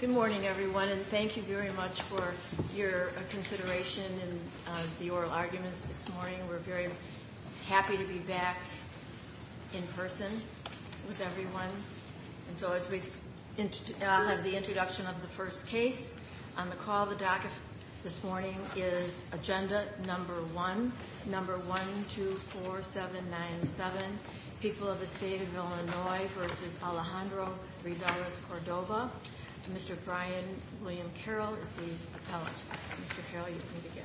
Good morning, everyone, and thank you very much for your consideration in the oral arguments this morning. We're very happy to be back in person with everyone. And so as we have the introduction of the first case, on the call of the docket this morning is Agenda No. 1, 124797, People of the State of Illinois v. Alejandro Reveles-Cordova. Mr. Brian William Carroll is the appellant. Mr. Carroll, you may begin.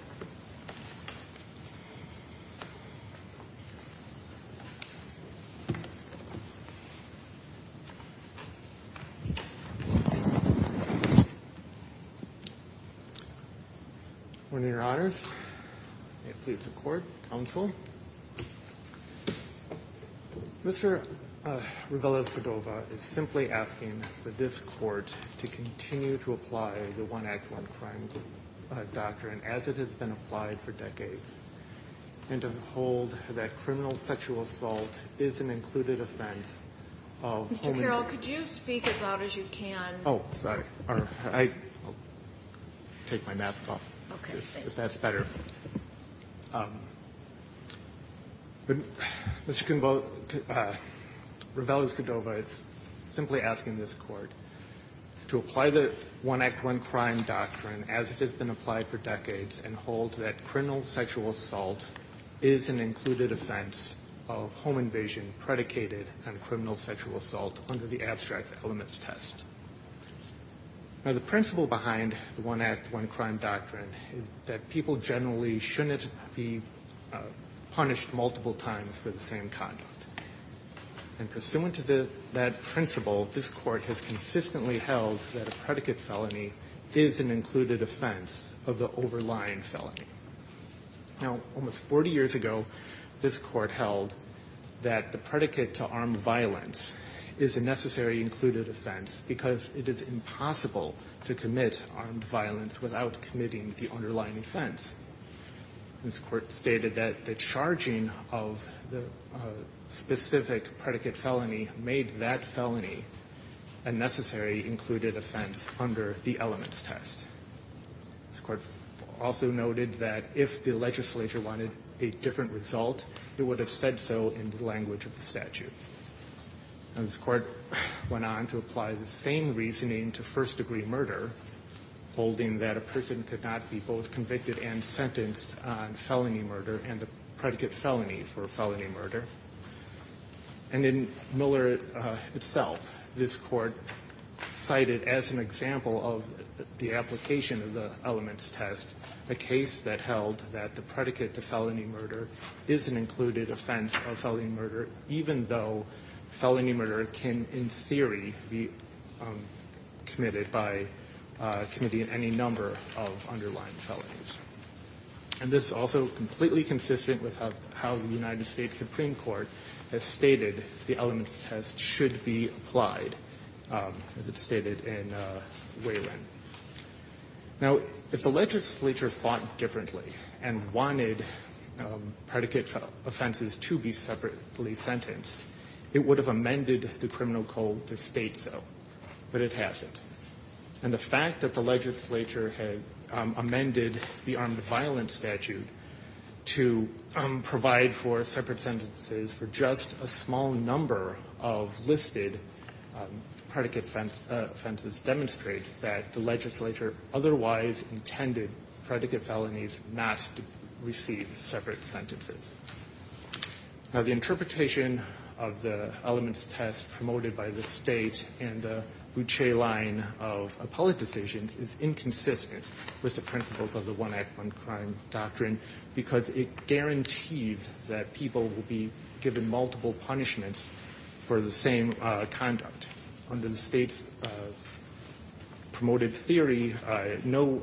On your honors, may it please the court, counsel, Mr. Reveles-Cordova is simply asking for this court to continue to apply the one act, one crime doctrine as it has been applied for decades, and to hold that criminal sexual assault is an included offense of only the defendant. Mr. Carroll, could you speak as loud as you can? Oh, sorry. I'll take my mask off. Okay. If that's better. Mr. Convote, Reveles-Cordova is simply asking this court to apply the one act, one crime doctrine as it has been applied for decades, and hold that criminal sexual assault is an included offense of home invasion predicated on criminal sexual assault under the abstract elements test. Now, the principle behind the one act, one crime doctrine is that people generally shouldn't be punished multiple times for the same conduct. And pursuant to that principle, this court has consistently held that a predicate felony is an included offense of the overlying felony. Now, almost 40 years ago, this court held that the predicate to armed violence is a necessary included offense because it is impossible to commit armed violence without committing the underlying offense. This court stated that the charging of the specific predicate felony made that felony a necessary included offense under the elements test. This court also noted that if the legislature wanted a different result, it would have said so in the language of the statute. This court went on to apply the same reasoning to first degree murder, holding that a person could not be both convicted and sentenced on felony murder and the predicate felony for felony murder. And in Miller itself, this court cited as an example of the application of the elements test, a case that held that the predicate to felony murder is an included offense of felony murder, even though felony murder can in theory be committed by committing any number of underlying felonies. And this is also completely consistent with how the United States Supreme Court has stated the elements test should be applied, as it's stated in Wayland. Now, if the legislature thought differently and wanted predicate offenses to be separately sentenced, it would have amended the criminal code to state so, but it hasn't. And the fact that the legislature had amended the armed violence statute to provide for separate sentences for just a small number of listed predicate offenses demonstrates that the legislature otherwise intended predicate felonies not to receive separate sentences. Now, the interpretation of the elements test promoted by the state and the Boucher line of appellate decisions is inconsistent with the principles of the one act, one crime doctrine, because it guarantees that people will be given multiple punishments for the same conduct. Under the state's promoted theory, no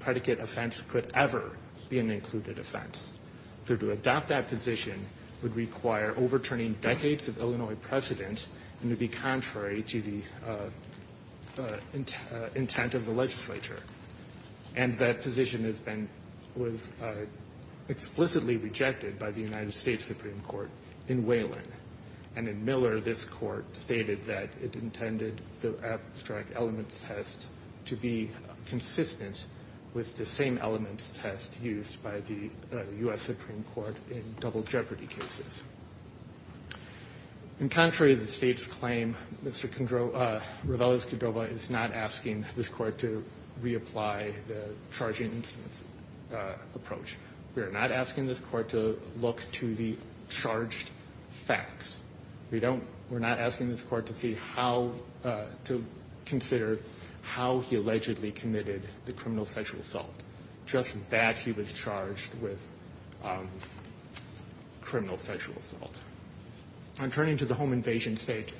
predicate offense could ever be an included offense. So to adopt that position would require overturning decades of Illinois precedent and to be contrary to the intent of the legislature. And that position has been, was explicitly rejected by the United States Supreme Court in Wayland. And in Miller, this court stated that it intended the abstract elements test to be consistent with the same elements test used by the U.S. Supreme Court in double jeopardy cases. In contrary to the state's claim, Mr. Rivela's Cordova is not asking this court to reapply the charging instruments approach. We are not asking this court to look to the charged facts. We don't, we're not asking this court to see how to consider how he allegedly committed the criminal sexual assault, just that he was charged with criminal sexual assault. On turning to the home invasion statute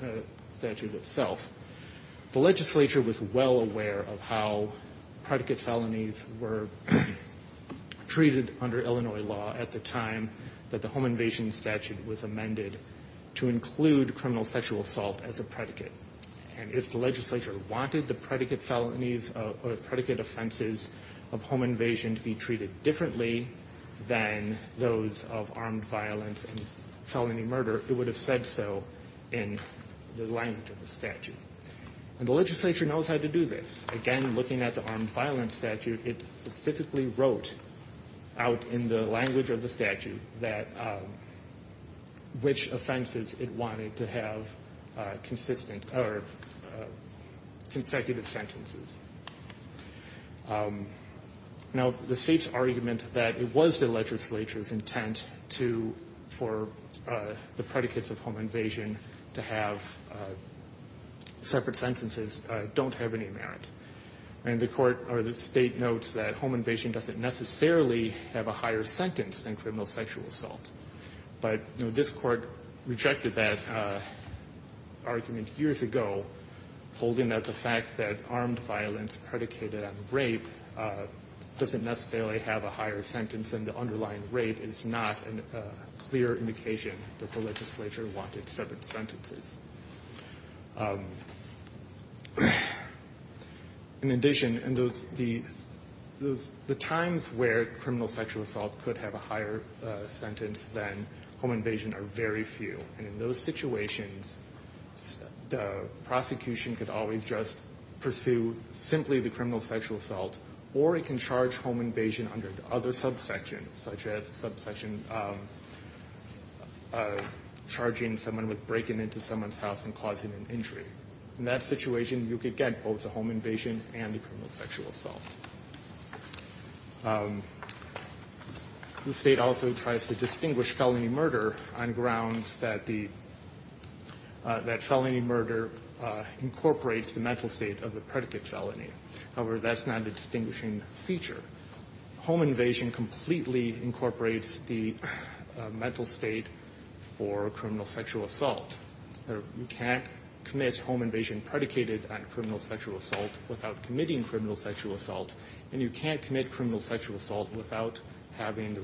itself, the legislature was well aware of how predicate felonies were treated under Illinois law at the time that the home invasion statute was amended to include criminal sexual assault as a predicate. And if the legislature wanted the predicate felonies or predicate offenses to be treated differently than those of armed violence and felony murder, it would have said so in the language of the statute. And the legislature knows how to do this. Again, looking at the armed violence statute, it specifically wrote out in the language of the statute that, which offenses it wanted to have consistent or consistent with criminal sexual assault. Now, the state's argument that it was the legislature's intent to, for the predicates of home invasion to have separate sentences don't have any merit. And the court, or the state, notes that home invasion doesn't necessarily have a higher sentence than criminal sexual assault. But, you know, this court rejected that argument years ago, holding that the fact that armed violence is predicated on rape doesn't necessarily have a higher sentence than the underlying rape is not a clear indication that the legislature wanted separate sentences. In addition, in those, the times where criminal sexual assault could have a higher sentence than home invasion are very few. And in those situations, the prosecution could always just pursue similar sentences. It could charge simply the criminal sexual assault, or it can charge home invasion under other subsections, such as subsection charging someone with breaking into someone's house and causing an injury. In that situation, you could get both the home invasion and the criminal sexual assault. The state also tries to distinguish felony murder on grounds that felony murder incorporates the mental state of the predicate felony. However, that's not a distinguishing feature. Home invasion completely incorporates the mental state for criminal sexual assault. You can't commit home invasion predicated on criminal sexual assault without committing criminal sexual assault. And you can't commit criminal sexual assault without having the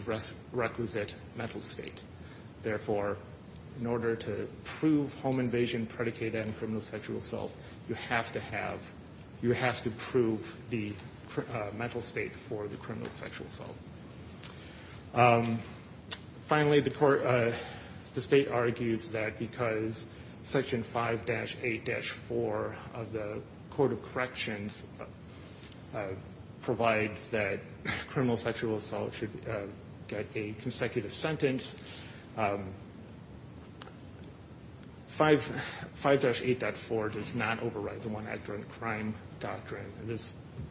requisite mental state. Therefore, in order to prove home invasion predicated on criminal sexual assault, you have to have the mental state for the criminal sexual assault. Finally, the state argues that because Section 5-8-4 of the Court of Corrections provides that criminal sexual assault should get a consecutive sentence, 5-8-4 does not override the one-act-during-a-crime provision. This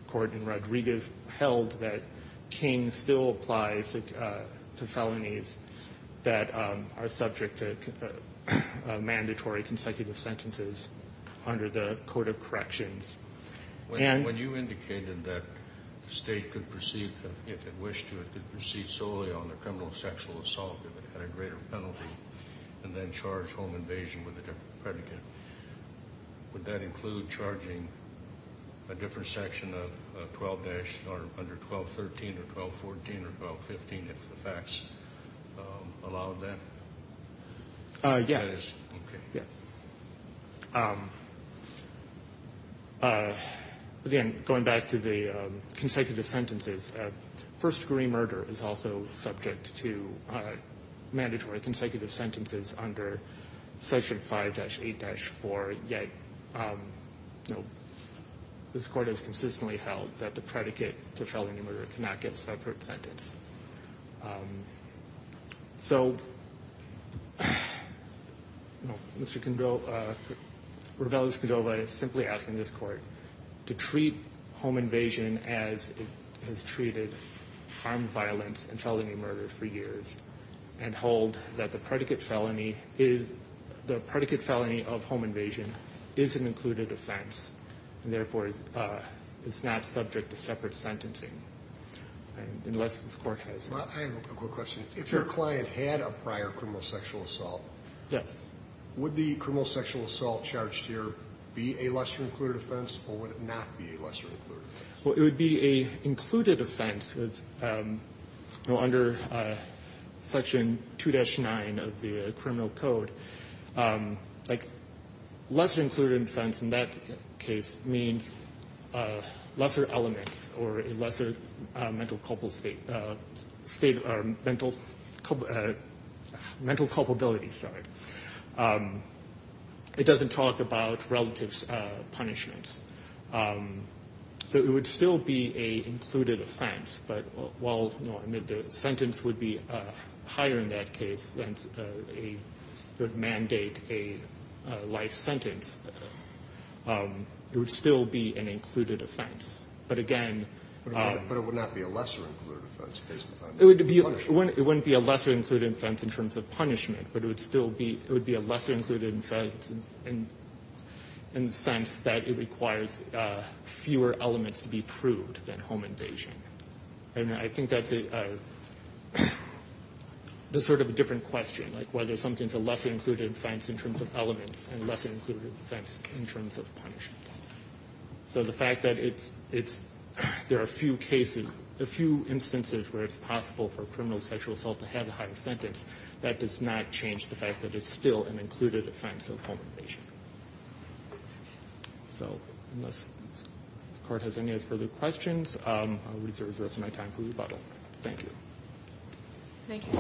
Court in Rodriguez held that King still applies to felonies that are subject to mandatory consecutive sentences under the Court of Corrections. When you indicated that the state could proceed, if it wished to, could proceed solely on the criminal sexual assault if it had a greater penalty than then charge home invasion with a different predicate, would that include charging a different section of 12-13 or 12-14 or 12-15, if the facts allowed that? Yes. Again, going back to the consecutive sentences, first-degree murder is also subject to mandatory consecutive sentences under Section 5-8-4, yet this Court has consistently held that the predicate to felony murder cannot get a separate sentence. So, Mr. Cordova is simply asking this Court to treat home invasion as it has treated harm, violence, and felony murder for years and hold that the predicate felony of home invasion is an included offense, and therefore it's not subject to separate sentencing, unless this Court has it. I have a quick question. If your client had a prior criminal sexual assault, would the criminal sexual assault charged here be a lesser-included offense, or would it not be a lesser-included offense? Well, it would be an included offense. Section 2-9 of the Criminal Code, lesser-included offense in that case means lesser elements or a lesser mental culpability. It doesn't talk about relative punishments, so it would still be an included offense. But while, you know, the sentence would be higher in that case, and it would mandate a life sentence, it would still be an included offense. But again, it wouldn't be a lesser-included offense in terms of punishment, but it would still be a lesser-included offense in the sense that it requires fewer elements to be proved than home invasion. And I think that's a sort of a different question, like whether something's a lesser-included offense in terms of elements and a lesser-included offense in terms of punishment. So the fact that it's, there are a few cases, a few instances where it's possible for a criminal sexual assault to have a higher sentence, that does not change the fact that it's still an included offense of home invasion. So unless the Court has any further questions, I'll reserve the rest of my time for rebuttal. Thank you. Thank you.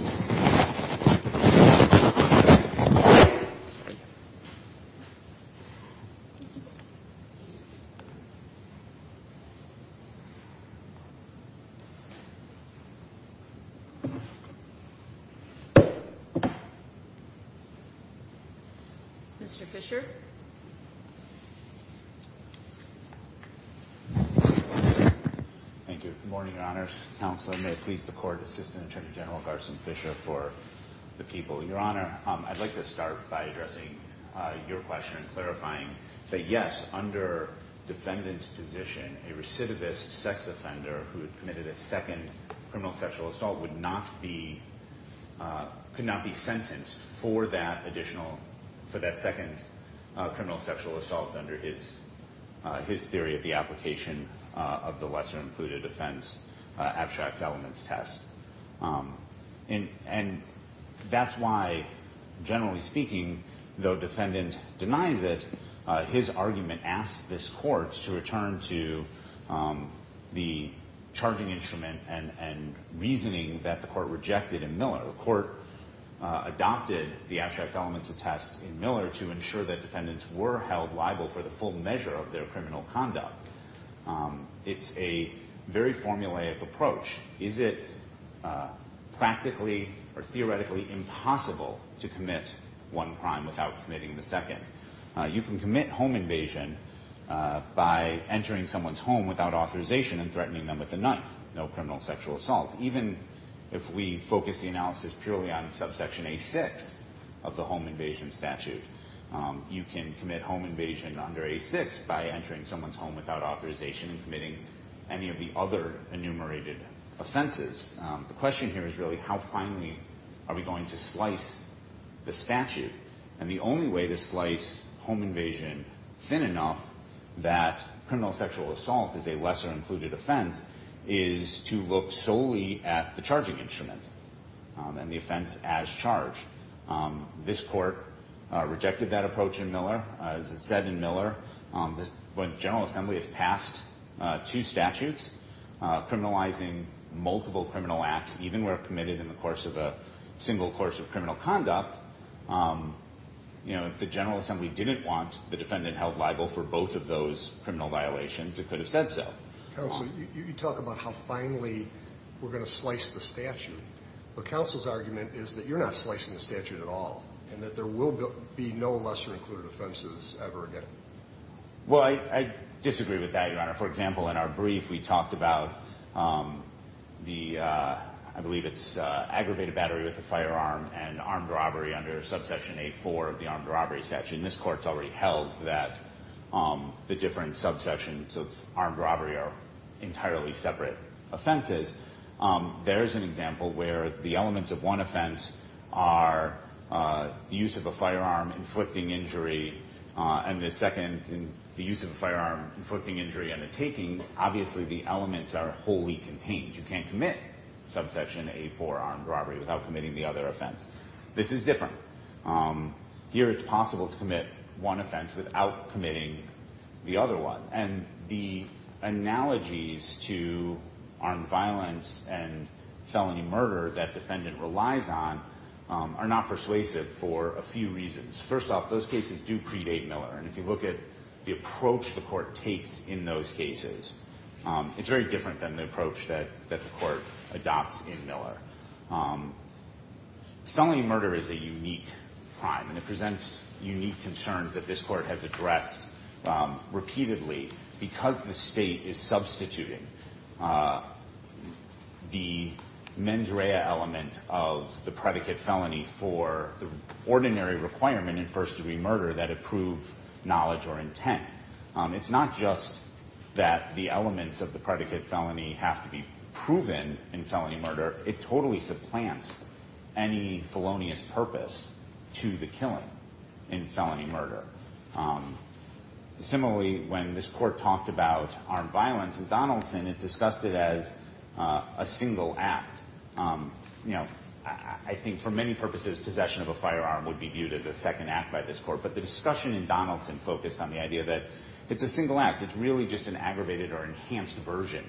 Mr. Fisher. Thank you. Good morning, Your Honors. Counselor, may it please the Court, Assistant Attorney General Garson Fisher for the people. Your Honor, I'd like to start by addressing your question and clarifying that, yes, under defendant's position, a recidivist sex offender who had committed a second criminal sexual assault would not be, could not be sentenced for that additional, for that second home invasion. Criminal sexual assault under his theory of the application of the lesser-included offense abstract elements test. And that's why, generally speaking, though defendant denies it, his argument asks this Court to return to the charging instrument and reasoning that the Court rejected in Miller. The Court adopted the abstract elements test in Miller to ensure that defendants were held liable for the full measure of their criminal conduct. It's a very formulaic approach. Is it practically or theoretically impossible to commit one crime without committing the second? You can commit home invasion by entering someone's home without authorization and threatening them with a knife. No criminal sexual assault, even if we focus the analysis purely on subsection A6 of the home invasion statute. You can commit home invasion under A6 by entering someone's home without authorization and committing any of the other enumerated offenses. The question here is really how finely are we going to slice the statute? And the only way to slice home invasion thin enough that criminal sexual assault is a lesser-included offense is to cut it off. The only way to do that is to look solely at the charging instrument and the offense as charged. This Court rejected that approach in Miller. As it said in Miller, when the General Assembly has passed two statutes criminalizing multiple criminal acts, even where committed in the course of a single course of criminal conduct, if the General Assembly didn't want the defendant held liable for both of those criminal violations, it could have said so. Counsel, you talk about how finely we're going to slice the statute, but counsel's argument is that you're not slicing the statute at all and that there will be no lesser-included offenses ever again. Well, I disagree with that, Your Honor. For example, in our brief, we talked about the, I believe it's aggravated battery with a firearm and armed robbery under subsection A4 of the armed robbery statute. And this Court's already held that the different subsections of armed robbery are entirely separate offenses. There's an example where the elements of one offense are the use of a firearm inflicting injury and the second, the use of a firearm inflicting injury and the taking, obviously the elements are wholly contained. You can't commit subsection A4 armed robbery without committing the other offense. This is different. Here it's possible to commit one offense without committing the other one. And the analogies to armed violence and felony murder that defendant relies on are not persuasive for a few reasons. First off, those cases do predate Miller, and if you look at the approach the Court takes in those cases, it's very different than the approach that the Court adopts in Miller. Felony murder is a unique crime, and it presents unique concerns that this Court has addressed repeatedly because the state is substituting the mens rea element of the predicate felony for the ordinary requirement in first degree murder that approve knowledge or intent. It's not just that the elements of the predicate felony have to be proven in felony murder. It totally supplants any felonious purpose to the killing in felony murder. Similarly, when this Court talked about armed violence in Donaldson, it discussed it as a single act. I think for many purposes, possession of a firearm would be viewed as a second act by this Court, but the discussion in Donaldson focused on the idea that it's a single act. It's really just an aggravated or enhanced version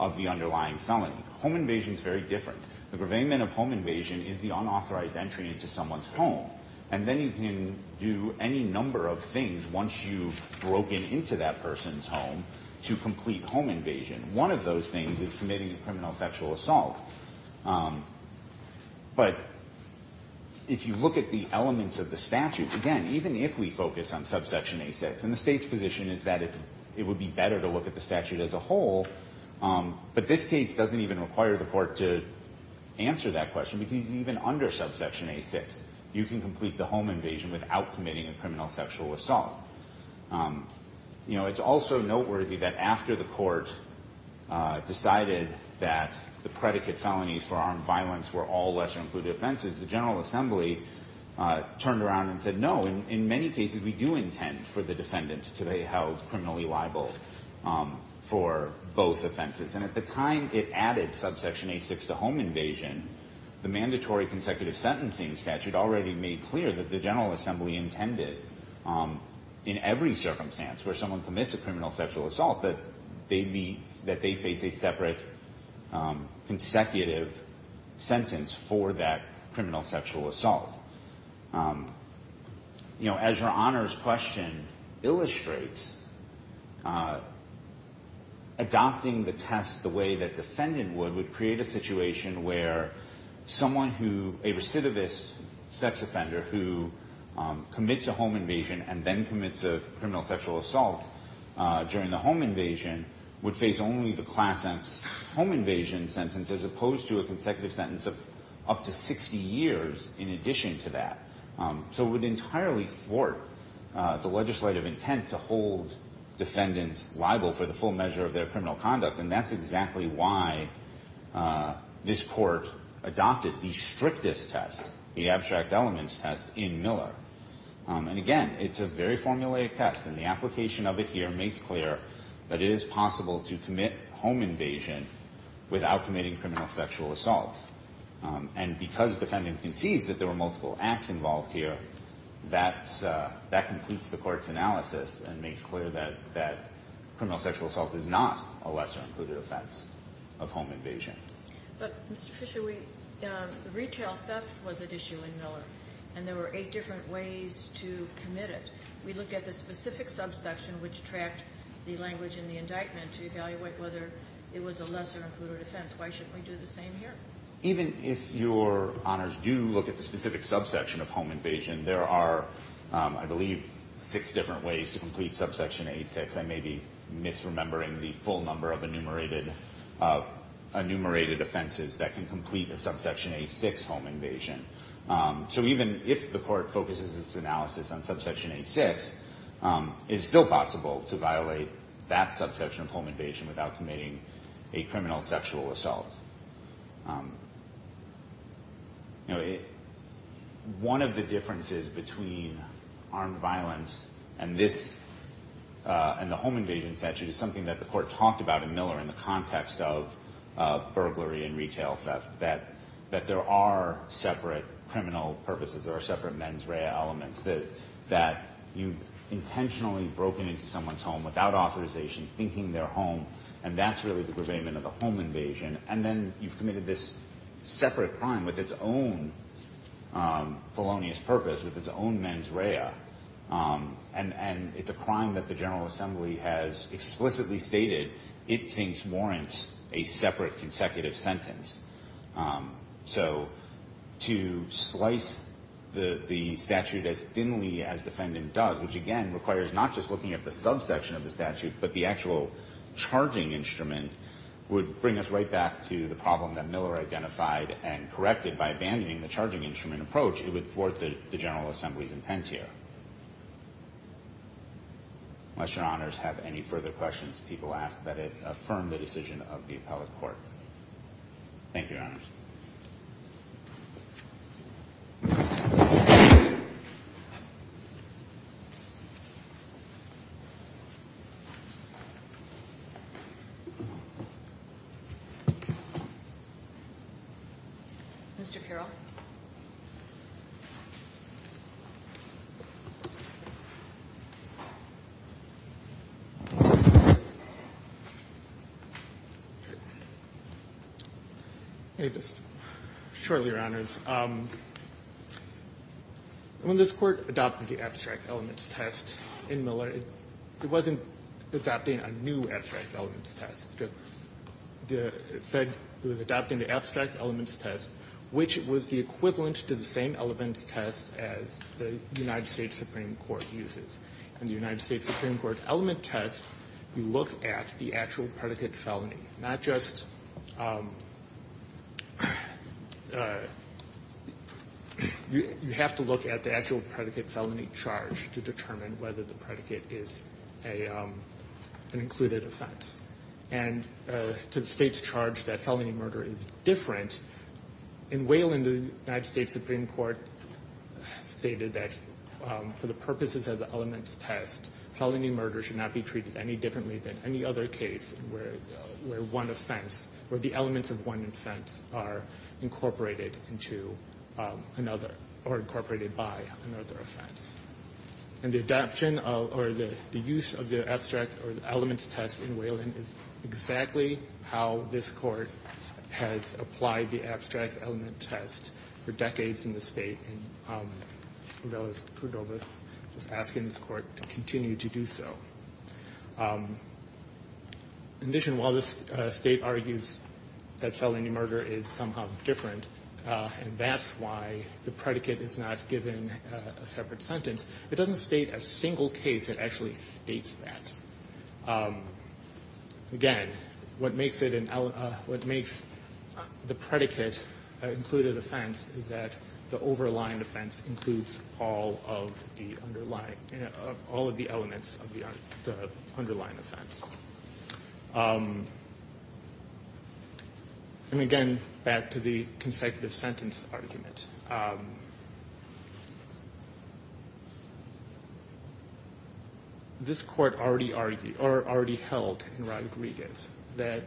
of the underlying felony. The aggravated felony is a single act, and the extent to which it's a single act is not very different. The gravehangment of home invasion is the unauthorized entry into someone's home, and then you can do any number of things once you've broken into that person's home to complete home invasion. One of those things is committing a criminal sexual assault. But if you look at the elements of the statute, again, even if we focus on subsection A6, and the State's position is that it would be better to look at the statute as a whole, but this case doesn't even require the Court to look at the statute as a whole. You can't answer that question, because even under subsection A6, you can complete the home invasion without committing a criminal sexual assault. It's also noteworthy that after the Court decided that the predicate felonies for armed violence were all lesser-included offenses, the General Assembly turned around and said, no, in many cases we do intend for the defendant to be held criminally liable for both offenses. And at the time it added subsection A6 to home invasion, the mandatory consecutive sentencing statute already made clear that the General Assembly intended, in every circumstance where someone commits a criminal sexual assault, that they face a separate consecutive sentence for that criminal sexual assault. As Your Honor's question illustrates, adopting the test of home invasion is not the right thing to do. And that's the way that defendant would create a situation where someone who, a recidivist sex offender who commits a home invasion and then commits a criminal sexual assault during the home invasion, would face only the class X home invasion sentence, as opposed to a consecutive sentence of up to 60 years in addition to that. So it would entirely thwart the legislative intent to hold defendants liable for the full measure of their criminal conduct, and that's exactly what happened. And that's exactly why this Court adopted the strictest test, the abstract elements test, in Miller. And again, it's a very formulaic test, and the application of it here makes clear that it is possible to commit home invasion without committing criminal sexual assault. And because defendant concedes that there were multiple acts involved here, that completes the Court's analysis and makes clear that criminal sexual assault is not a lesser-included offense. But, Mr. Fisher, retail theft was at issue in Miller, and there were eight different ways to commit it. We looked at the specific subsection which tracked the language in the indictment to evaluate whether it was a lesser-included offense. Why shouldn't we do the same here? Even if Your Honors do look at the specific subsection of home invasion, there are, I believe, six different ways to complete subsection A6. There are six different enumerated offenses that can complete a subsection A6 home invasion. So even if the Court focuses its analysis on subsection A6, it's still possible to violate that subsection of home invasion without committing a criminal sexual assault. One of the differences between armed violence and the home invasion statute is something that the Court talked about in Miller in the context of the burglary and retail theft, that there are separate criminal purposes, there are separate mens rea elements, that you've intentionally broken into someone's home without authorization, thinking they're home, and that's really the gravamen of the home invasion. And then you've committed this separate crime with its own felonious purpose, with its own mens rea, and it's a crime that the General Assembly has to deal with. So to slice the statute as thinly as defendant does, which again requires not just looking at the subsection of the statute, but the actual charging instrument, would bring us right back to the problem that Miller identified and corrected by abandoning the charging instrument approach. It would thwart the General Assembly's intent here. Unless your honors have any further questions, people ask that it affirm the decision of the appellate court. Thank you, your honors. Mr. Carroll. Thank you, your honors. Shortly, your honors, when this Court adopted the abstract elements test in Miller, it wasn't adopting a new abstract elements test. It said it was adopting the abstract elements test, which was the equivalent to the same elements test as the United States Supreme Court uses. In the United States Supreme Court element test, you look at the actual predicate felony, not just... You have to look at the actual predicate felony charge to determine whether the predicate is an included offense. And to the state's charge that felony murder is different, in Wayland, the United States Supreme Court stated that for the purpose of the element test, felony murder should not be treated any differently than any other case where one offense, where the elements of one offense are incorporated into another, or incorporated by another offense. And the adoption, or the use of the abstract elements test in Wayland is exactly how this Court has applied the abstract element test for decades in the state, and I know that Cordova is asking this Court to continue to do so. In addition, while this state argues that felony murder is somehow different, and that's why the predicate is not given a separate sentence, it doesn't state a single case that actually states that. Again, what makes the predicate an included offense is the fact that it's a felony. The underlying offense is that the overlying offense includes all of the underlying, all of the elements of the underlying offense. And again, back to the consecutive sentence argument. This Court already argued, or already held in Rodriguez, that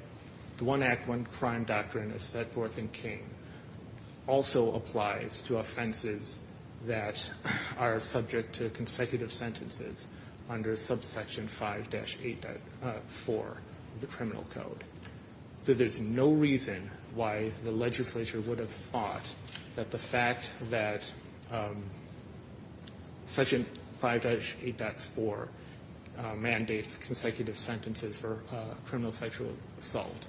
the one act, one crime doctrine is set forth in Kane. And it also applies to offenses that are subject to consecutive sentences under subsection 5-8.4 of the criminal code. So there's no reason why the legislature would have thought that the fact that section 5-8.4 mandates consecutive sentences for criminal sexual assault,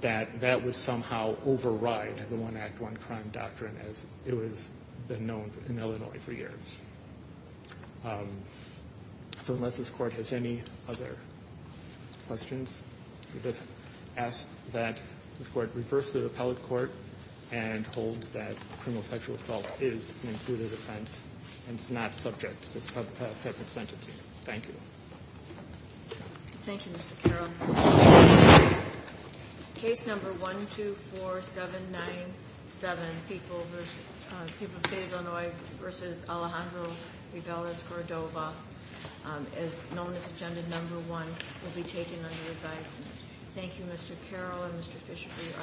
that that would somehow override the one act, one crime doctrine. As it has been known in Illinois for years. So unless this Court has any other questions, I just ask that this Court reverse the appellate court and hold that criminal sexual assault is an included offense, and it's not subject to a separate sentence. Thank you. Thank you, Mr. Carroll. Case number 124797, People of the State of Illinois v. Alejandro Rivelas-Gordova, as known as agenda number one, will be taken under advisement. Thank you, Mr. Carroll and Mr. Fisherbee.